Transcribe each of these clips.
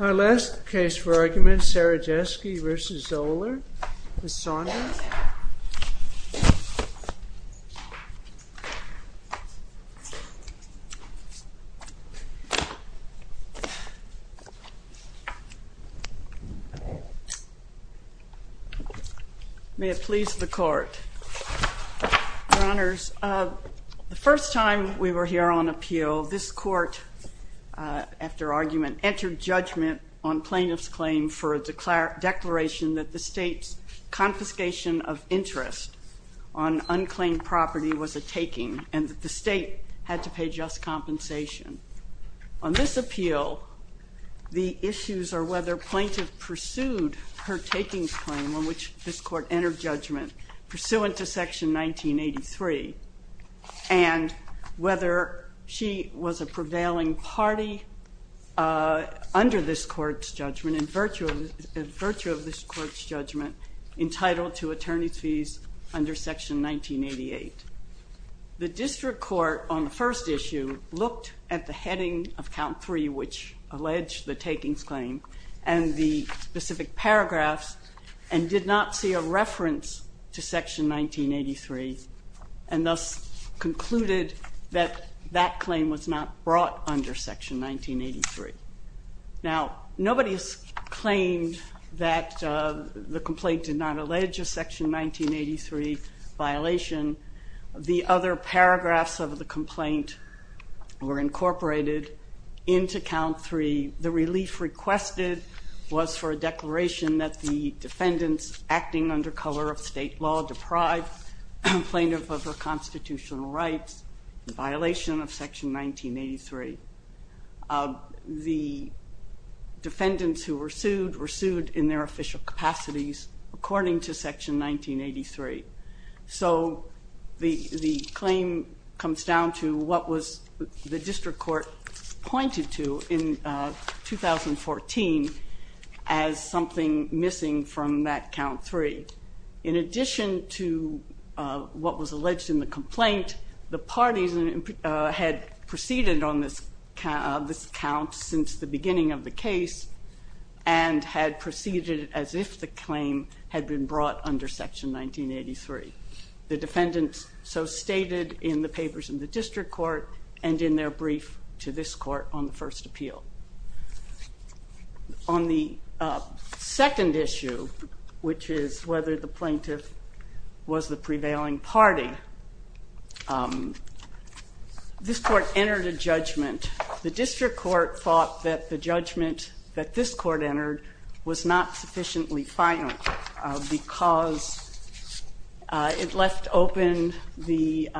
Our last case for argument, Cerajeski v. Zoeller, Ms. Saunders. May it please the court. Your honors, the first time we were here on appeal, this court, after argument, entered judgment on plaintiff's claim for a declaration that the state's confiscation of interest on unclaimed property was a taking and that the state had to pay just compensation. On this appeal, the issues are whether plaintiff pursued her takings claim on which this court entered judgment pursuant to section 1983 and whether she was a prevailing party under this court's judgment in virtue of this court's judgment entitled to attorney's fees under section 1988. The district court on the first issue looked at the heading of count three which alleged the takings claim and the specific paragraphs and did not see a reference to section 1983 and thus concluded that that claim was not brought under section 1983. Now nobody has claimed that the complaint did not allege a section 1983 violation. The other paragraphs of the complaint were incorporated into count three. The relief requested was for a declaration that the defendants acting under color of state law deprived plaintiff of her constitutional rights in violation of section 1983. The defendants who were sued were sued in their official capacities according to section 1983. So the claim comes down to what the district court pointed to in 2014 as something missing from that count three. In addition to what was alleged in the complaint, the parties had proceeded on this count since the beginning of the case and had proceeded as if the claim had been brought under section 1983. The defendants so stated in the papers in the district court and in their brief to this court on the first appeal. On the second issue, which is whether the plaintiff was the prevailing party, this court entered a judgment. The district court thought that the judgment that this court entered was not sufficiently final because it left open the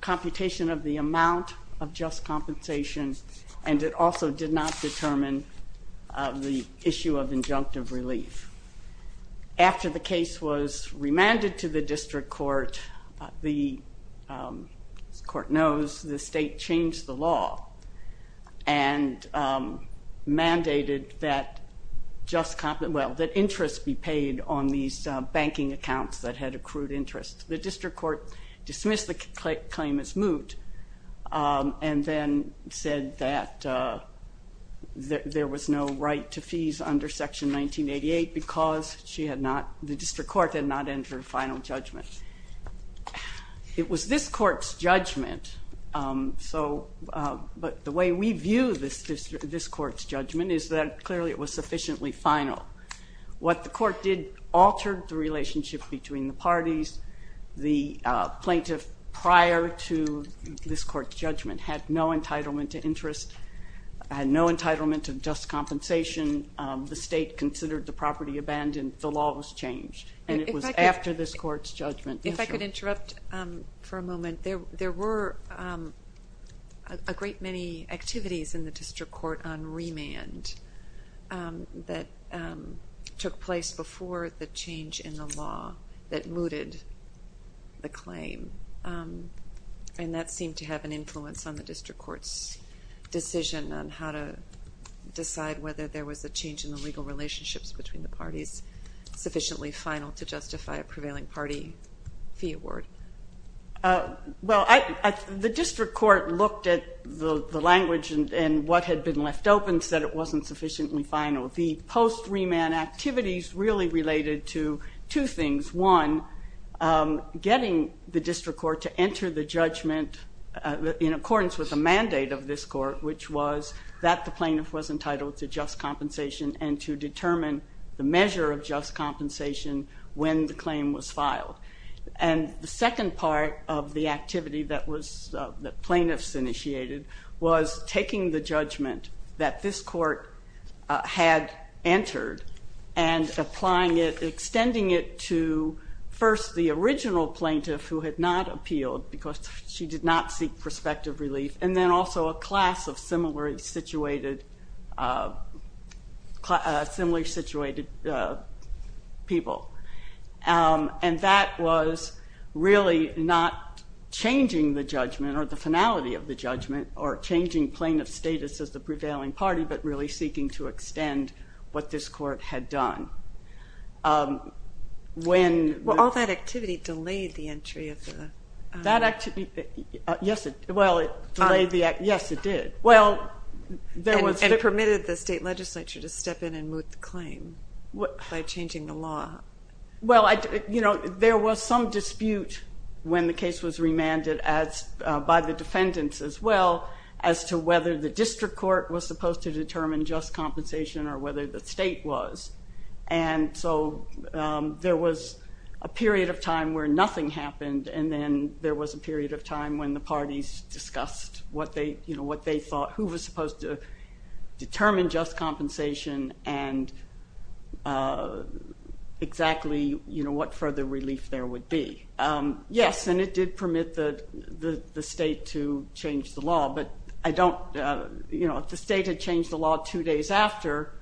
computation of the amount of just compensation and it also did not determine the issue of injunctive relief. After the case was remanded to the district court, the court knows the state changed the law and mandated that interest be paid on these banking accounts that had accrued interest. The district court dismissed the claim as moot and then said that there was no right to fees under section 1988 because the district court had not entered a final judgment. It was this court's judgment, but the way we view this court's judgment is that clearly it was sufficiently final. What the court did altered the relationship between the parties. The plaintiff prior to this court's judgment had no entitlement to interest, had no entitlement to just compensation. The state considered the property abandoned. The law was changed, and it was after this court's judgment. If I could interrupt for a moment, there were a great many activities in the district court on remand that took place before the change in the law that mooted the claim. That seemed to have an influence on the district court's decision on how to decide whether there was a change in the legal relationships between the parties sufficiently final to justify a prevailing party fee award. The district court looked at the language and what had been left open and said it wasn't sufficiently final. The post remand activities really related to two things. One, getting the district court to enter the judgment in accordance with the mandate of this court, which was that the plaintiff was entitled to just compensation and to determine the measure of just compensation when the claim was filed. The second part of the activity that plaintiffs initiated was taking the judgment that this court had entered and extending it to first the original plaintiff who had not appealed because she did not seek prospective relief, and then also a class of similarly situated people. And that was really not changing the judgment or the finality of the judgment or changing plaintiff status as the prevailing party, but really seeking to extend what this court had done. Well, all that activity delayed the entry of the... Yes, it did. And permitted the state legislature to step in and move the claim by changing the law. Well, there was some dispute when the case was remanded by the defendants as well as to whether the district court was supposed to determine just compensation or whether the state was. And so there was a period of time where nothing happened, and then there was a period of time when the parties discussed what they thought, who was supposed to determine just compensation and exactly what further relief there would be. Yes, and it did permit the state to change the law, but I don't... If the state had changed the law two days after,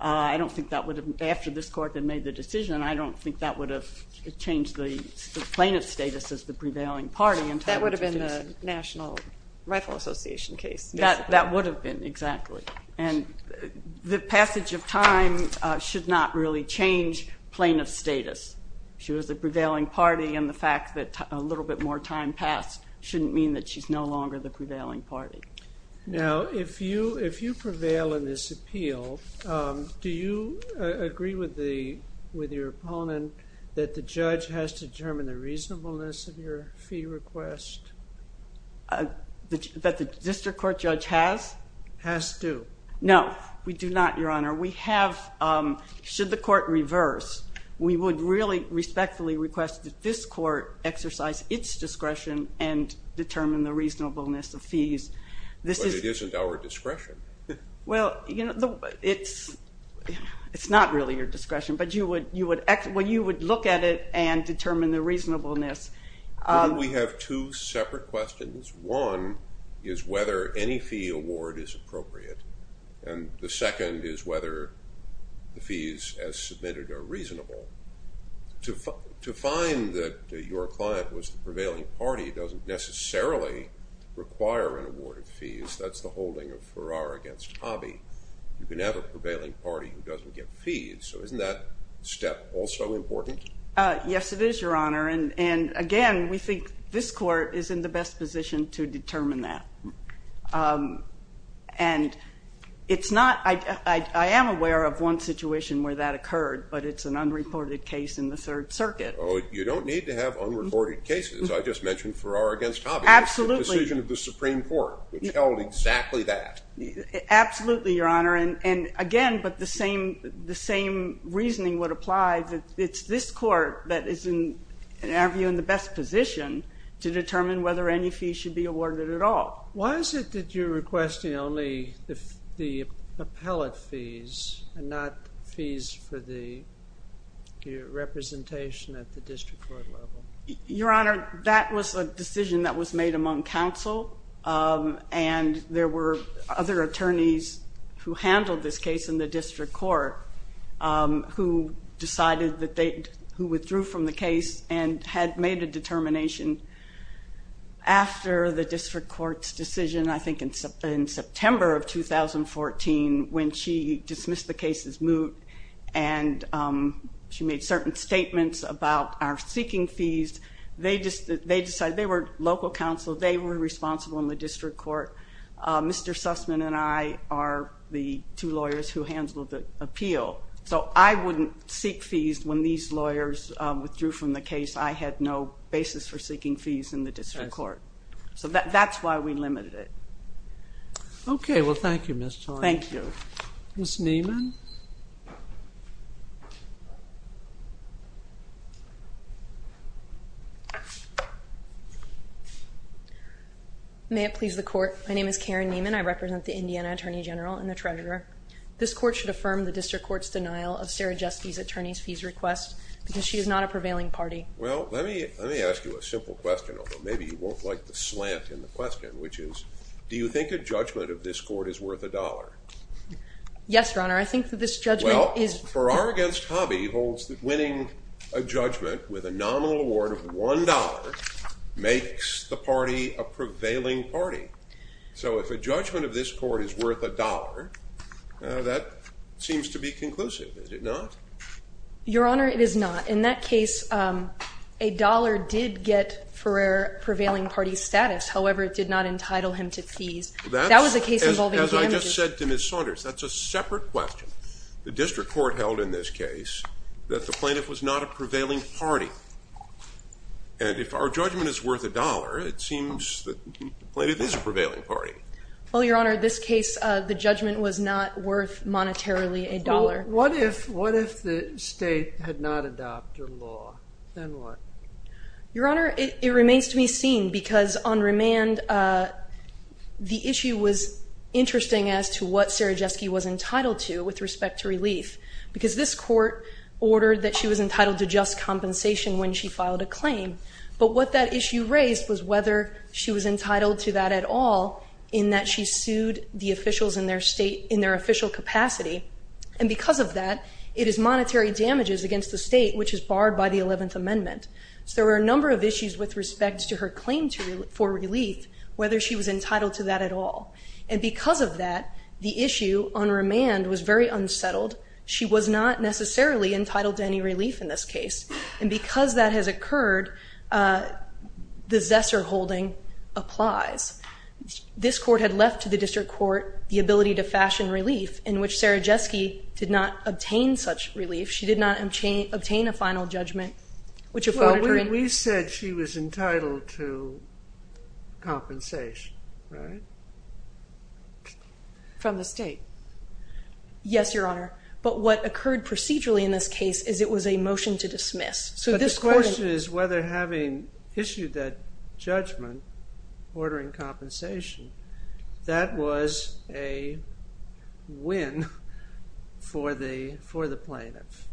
I don't think that would have... After this court had made the decision, I don't think that would have changed the plaintiff status as the prevailing party. That would have been the National Rifle Association case. That would have been, exactly. And the passage of time should not really change plaintiff status. She was the prevailing party, and the fact that a little bit more time passed shouldn't mean that she's no longer the prevailing party. Now, if you prevail in this appeal, do you agree with your opponent that the judge has to determine the reasonableness of your fee request? That the district court judge has? Has to. No, we do not, Your Honor. We have, should the court reverse, we would really respectfully request that this court exercise its discretion and determine the reasonableness of fees. But it isn't our discretion. Well, it's not really your discretion, but you would look at it and determine the reasonableness. We have two separate questions. One is whether any fee award is appropriate, and the second is whether the fees as submitted are reasonable. To find that your client was the prevailing party doesn't necessarily require an award of fees. That's the holding of Farrar against Hobby. You can have a prevailing party who doesn't get fees, so isn't that step also important? Yes, it is, Your Honor. And, again, we think this court is in the best position to determine that. And it's not, I am aware of one situation where that occurred, but it's an unreported case in the Third Circuit. Oh, you don't need to have unreported cases. I just mentioned Farrar against Hobby. Absolutely. It's the decision of the Supreme Court, which held exactly that. Absolutely, Your Honor. And, again, but the same reasoning would apply. It's this court that is, in our view, in the best position to determine whether any fees should be awarded at all. Why is it that you're requesting only the appellate fees and not fees for the representation at the district court level? Your Honor, that was a decision that was made among counsel. And there were other attorneys who handled this case in the district court who decided that they, who withdrew from the case and had made a determination after the district court's decision, I think in September of 2014, when she dismissed the case as moot and she made certain statements about our seeking fees. They decided, they were local counsel, they were responsible in the district court. Mr. Sussman and I are the two lawyers who handled the appeal. So I wouldn't seek fees when these lawyers withdrew from the case. I had no basis for seeking fees in the district court. So that's why we limited it. Okay. Well, thank you, Ms. Thomas. Thank you. Ms. Nieman? May it please the court. My name is Karen Nieman. I represent the Indiana Attorney General and the Treasurer. This court should affirm the district court's denial of Sarah Justy's attorney's fees request because she is not a prevailing party. Well, let me ask you a simple question, although maybe you won't like the slant in the question, which is, do you think a judgment of this court is worth a dollar? Yes, Your Honor. I think that this judgment is – Farrar against Hobby holds that winning a judgment with a nominal award of $1 makes the party a prevailing party. So if a judgment of this court is worth a dollar, that seems to be conclusive, is it not? Your Honor, it is not. In that case, a dollar did get Farrar a prevailing party status. However, it did not entitle him to fees. That was a case involving damages. As I just said to Ms. Saunders, that's a separate question. The district court held in this case that the plaintiff was not a prevailing party. And if our judgment is worth a dollar, it seems that the plaintiff is a prevailing party. Well, Your Honor, this case, the judgment was not worth monetarily a dollar. What if the state had not adopted law? Then what? Your Honor, it remains to be seen because on remand, the issue was interesting as to what Sarajewski was entitled to with respect to relief because this court ordered that she was entitled to just compensation when she filed a claim. But what that issue raised was whether she was entitled to that at all in that she sued the officials in their state in their official capacity. And because of that, it is monetary damages against the state, which is barred by the 11th Amendment. So there were a number of issues with respect to her claim for relief, whether she was entitled to that at all. And because of that, the issue on remand was very unsettled. She was not necessarily entitled to any relief in this case. And because that has occurred, the Zesser holding applies. This court had left to the district court the ability to fashion relief, in which Sarajewski did not obtain such relief. She did not obtain a final judgment. We said she was entitled to compensation, right? From the state. Yes, Your Honor. But what occurred procedurally in this case is it was a motion to dismiss. So this question is whether having issued that judgment ordering compensation, that was a win for the plaintiff.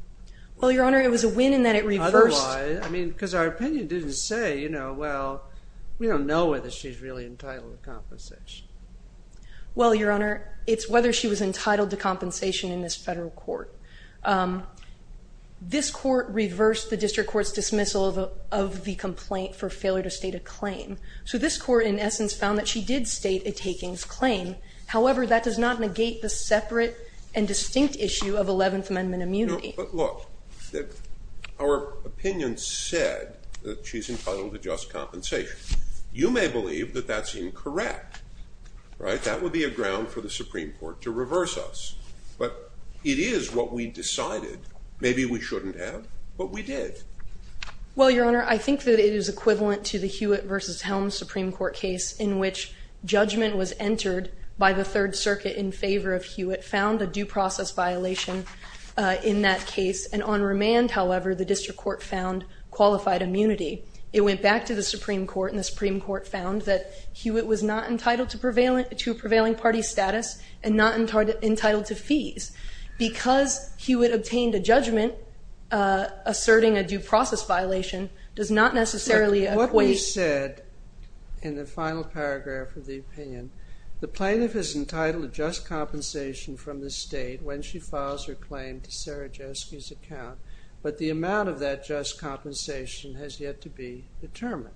Well, Your Honor, it was a win in that it reversed. Otherwise, I mean, because our opinion didn't say, you know, well, we don't know whether she's really entitled to compensation. Well, Your Honor, it's whether she was entitled to compensation in this federal court. This court reversed the district court's dismissal of the complaint for failure to state a claim. So this court, in essence, found that she did state a takings claim. However, that does not negate the separate and distinct issue of 11th Amendment immunity. But look, our opinion said that she's entitled to just compensation. You may believe that that's incorrect, right? That would be a ground for the Supreme Court to reverse us. But it is what we decided maybe we shouldn't have, but we did. Well, Your Honor, I think that it is equivalent to the Hewitt v. Helms Supreme Court case in which judgment was entered by the Third Circuit in favor of Hewitt, found a due process violation in that case. And on remand, however, the district court found qualified immunity. It went back to the Supreme Court, and the Supreme Court found that Hewitt was not entitled to a prevailing party status and not entitled to fees. Because Hewitt obtained a judgment asserting a due process violation, does not necessarily equate... Look, what we said in the final paragraph of the opinion, the plaintiff is entitled to just compensation from the state when she files her claim to Sarah Jeske's account. But the amount of that just compensation has yet to be determined.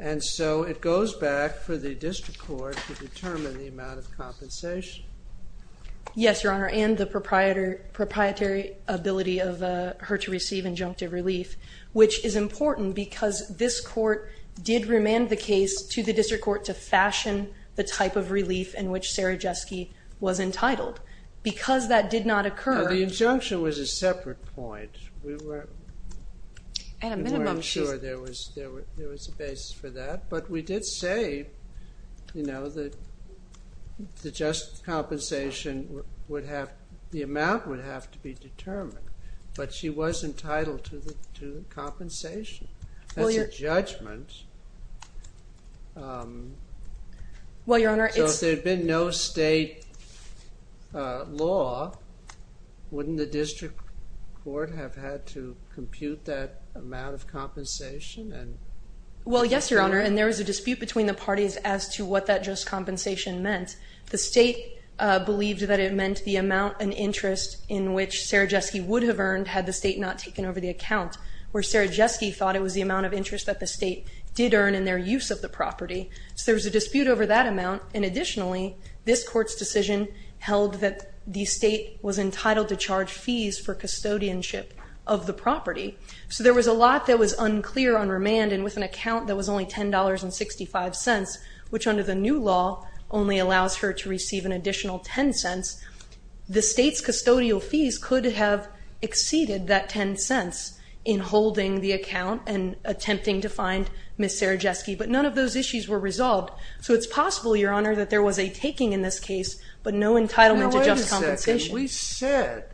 And so it goes back for the district court to determine the amount of compensation. Yes, Your Honor, and the proprietary ability of her to receive injunctive relief, which is important because this court did remand the case to the district court to fashion the type of relief in which Sarah Jeske was entitled. Because that did not occur... The injunction was a separate point. At a minimum, she... We weren't sure there was a basis for that. But we did say, you know, that the just compensation would have... the amount would have to be determined. But she was entitled to the compensation. That's a judgment. Well, Your Honor, it's... the district court have had to compute that amount of compensation and... Well, yes, Your Honor, and there was a dispute between the parties as to what that just compensation meant. The state believed that it meant the amount and interest in which Sarah Jeske would have earned had the state not taken over the account, where Sarah Jeske thought it was the amount of interest that the state did earn in their use of the property. So there was a dispute over that amount. And additionally, this court's decision held that the state was entitled to charge fees for custodianship of the property. So there was a lot that was unclear on remand, and with an account that was only $10.65, which under the new law only allows her to receive an additional $0.10, the state's custodial fees could have exceeded that $0.10 in holding the account and attempting to find Ms. Sarah Jeske. But none of those issues were resolved. So it's possible, Your Honor, that there was a taking in this case, but no entitlement to just compensation. But then we said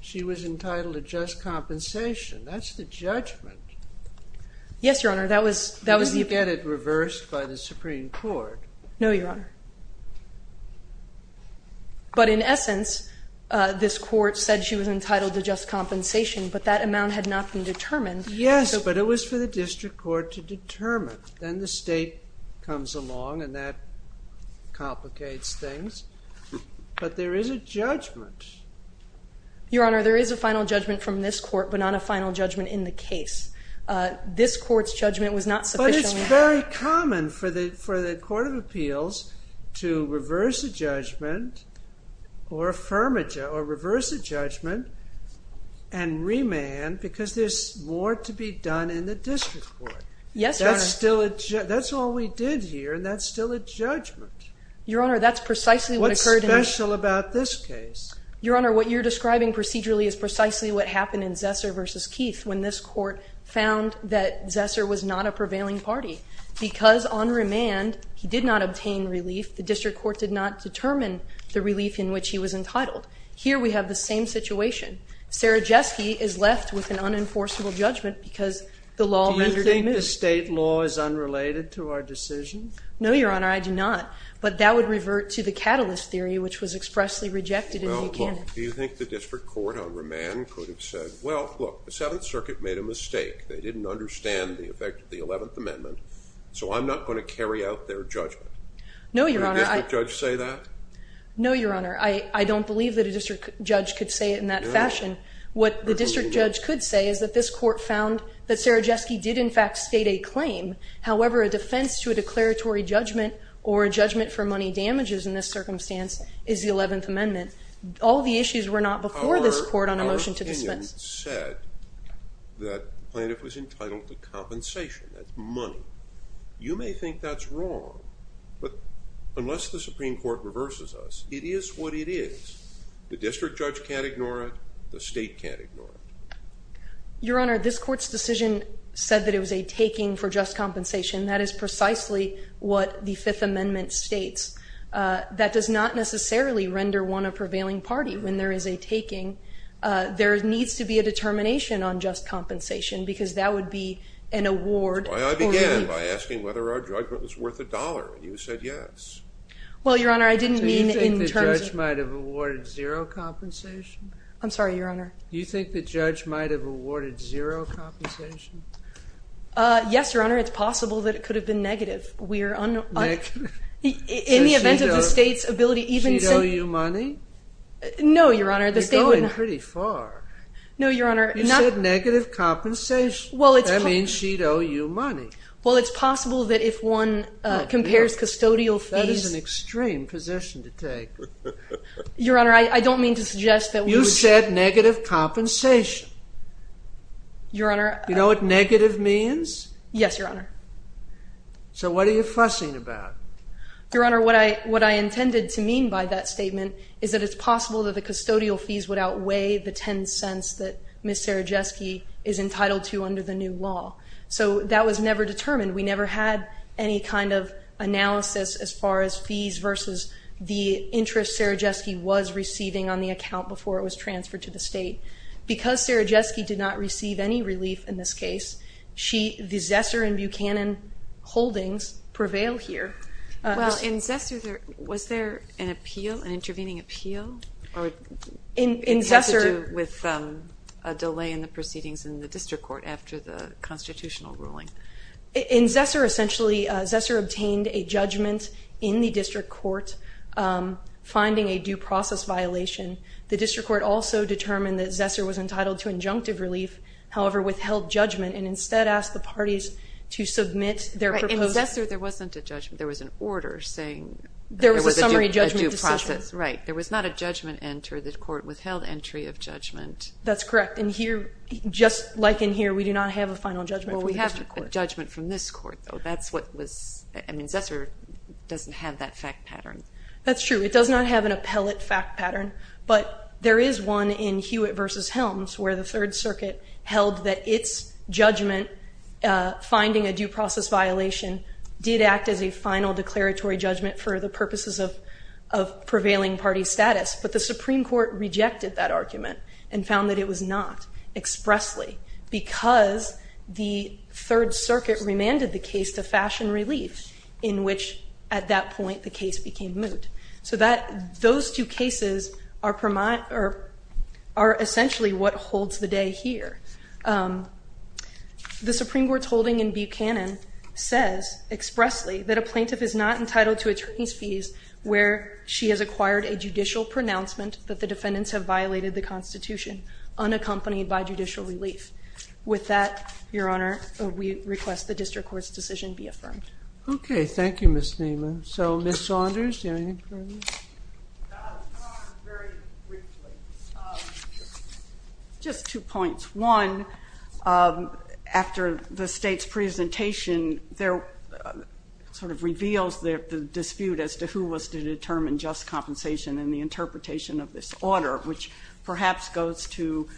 she was entitled to just compensation. That's the judgment. Yes, Your Honor. Did you get it reversed by the Supreme Court? No, Your Honor. But in essence, this court said she was entitled to just compensation, but that amount had not been determined. Yes, but it was for the district court to determine. Then the state comes along, and that complicates things. But there is a judgment. Your Honor, there is a final judgment from this court, but not a final judgment in the case. This court's judgment was not sufficient. But it's very common for the Court of Appeals to reverse a judgment or reverse a judgment and remand because there's more to be done in the district court. Yes, Your Honor. That's all we did here, and that's still a judgment. Your Honor, that's precisely what occurred in this case. What's special about this case? Your Honor, what you're describing procedurally is precisely what happened in Zesser v. Keith when this court found that Zesser was not a prevailing party. Because on remand he did not obtain relief, the district court did not determine the relief in which he was entitled. Here we have the same situation. Sarajewski is left with an unenforceable judgment because the law rendered him in. Do you think the state law is unrelated to our decision? No, Your Honor, I do not. But that would revert to the catalyst theory, which was expressly rejected in Buchanan. Well, look, do you think the district court on remand could have said, well, look, the Seventh Circuit made a mistake. They didn't understand the effect of the Eleventh Amendment, so I'm not going to carry out their judgment? No, Your Honor. Would a district judge say that? No, Your Honor. I don't believe that a district judge could say it in that fashion. What the district judge could say is that this court found that Sarajewski did, in fact, state a claim. However, a defense to a declaratory judgment or a judgment for money damages in this circumstance is the Eleventh Amendment. All the issues were not before this court on a motion to dispense. Our opinion said that Plaintiff was entitled to compensation. That's money. You may think that's wrong, but unless the Supreme Court reverses us, it is what it is. The district judge can't ignore it. The state can't ignore it. Your Honor, this court's decision said that it was a taking for just compensation. That is precisely what the Fifth Amendment states. That does not necessarily render one a prevailing party. When there is a taking, there needs to be a determination on just compensation because that would be an award for me. That's why I began by asking whether our judgment was worth a dollar, and you said yes. Well, Your Honor, I didn't mean in terms of the court's judgment. Do you think the judge might have awarded zero compensation? I'm sorry, Your Honor. Do you think the judge might have awarded zero compensation? Yes, Your Honor. It's possible that it could have been negative. Negative? In the event of the state's ability even to say— Did she owe you money? No, Your Honor. You're going pretty far. No, Your Honor. You said negative compensation. That means she'd owe you money. Well, it's possible that if one compares custodial fees— That is an extreme position to take. Your Honor, I don't mean to suggest that we would— You said negative compensation. Your Honor— Do you know what negative means? Yes, Your Honor. So what are you fussing about? Your Honor, what I intended to mean by that statement is that it's possible that the custodial fees would outweigh the 10 cents that Ms. Serajewski is entitled to under the new law. So that was never determined. We never had any kind of analysis as far as fees versus the interest Serajewski was receiving on the account before it was transferred to the state. Because Serajewski did not receive any relief in this case, the Zesser and Buchanan holdings prevail here. Well, in Zesser, was there an appeal, an intervening appeal? It has to do with a delay in the proceedings in the district court after the constitutional ruling. In Zesser, essentially, Zesser obtained a judgment in the district court finding a due process violation. The district court also determined that Zesser was entitled to injunctive relief, however, withheld judgment and instead asked the parties to submit their proposal. In Zesser, there wasn't a judgment. There was an order saying there was a summary judgment decision. There was a due process, right. There was not a judgment entered. The court withheld entry of judgment. That's correct. And here, just like in here, we do not have a final judgment from the district court. Well, we have a judgment from this court, though. That's what was – I mean, Zesser doesn't have that fact pattern. That's true. It does not have an appellate fact pattern. But there is one in Hewitt v. Helms where the Third Circuit held that its judgment, finding a due process violation, did act as a final declaratory judgment for the purposes of prevailing party status. But the Supreme Court rejected that argument and found that it was not expressly because the Third Circuit remanded the case to fashion relief in which, at that point, the case became moot. So those two cases are essentially what holds the day here. The Supreme Court's holding in Buchanan says expressly that a plaintiff is not entitled to attorneys' fees where she has acquired a judicial pronouncement that the defendants have violated the Constitution, unaccompanied by judicial relief. With that, Your Honor, we request the district court's decision be affirmed. Okay. Thank you, Ms. Niemann. So, Ms. Saunders, do you have anything further? I'll respond very briefly. Just two points. One, after the State's presentation, there sort of reveals the dispute as to who was to determine just compensation and the interpretation of this order, which perhaps goes to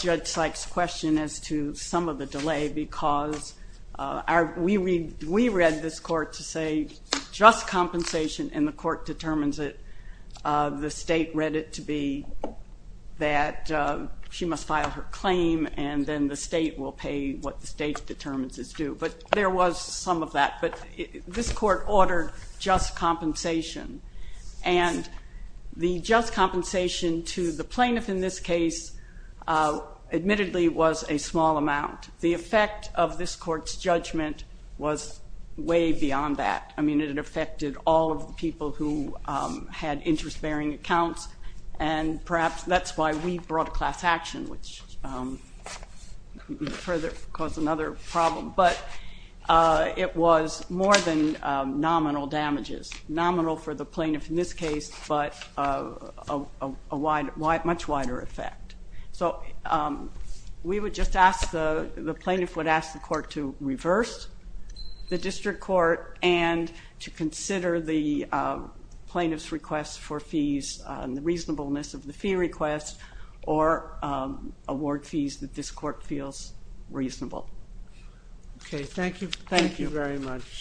Judge Sykes' question as to some of the delay because we read this court to say just compensation and the court determines it. The State read it to be that she must file her claim and then the State will pay what the State determines is due. But there was some of that. But this court ordered just compensation, and the just compensation to the plaintiff in this case, admittedly, was a small amount. The effect of this court's judgment was way beyond that. I mean, it affected all of the people who had interest-bearing accounts, and perhaps that's why we brought class action, which further caused another problem. But it was more than nominal damages, nominal for the plaintiff in this case but a much wider effect. So we would just ask, the plaintiff would ask the court to reverse the district court and to consider the plaintiff's request for fees and the reasonableness of the fee request or award fees that this court feels reasonable. Okay, thank you very much.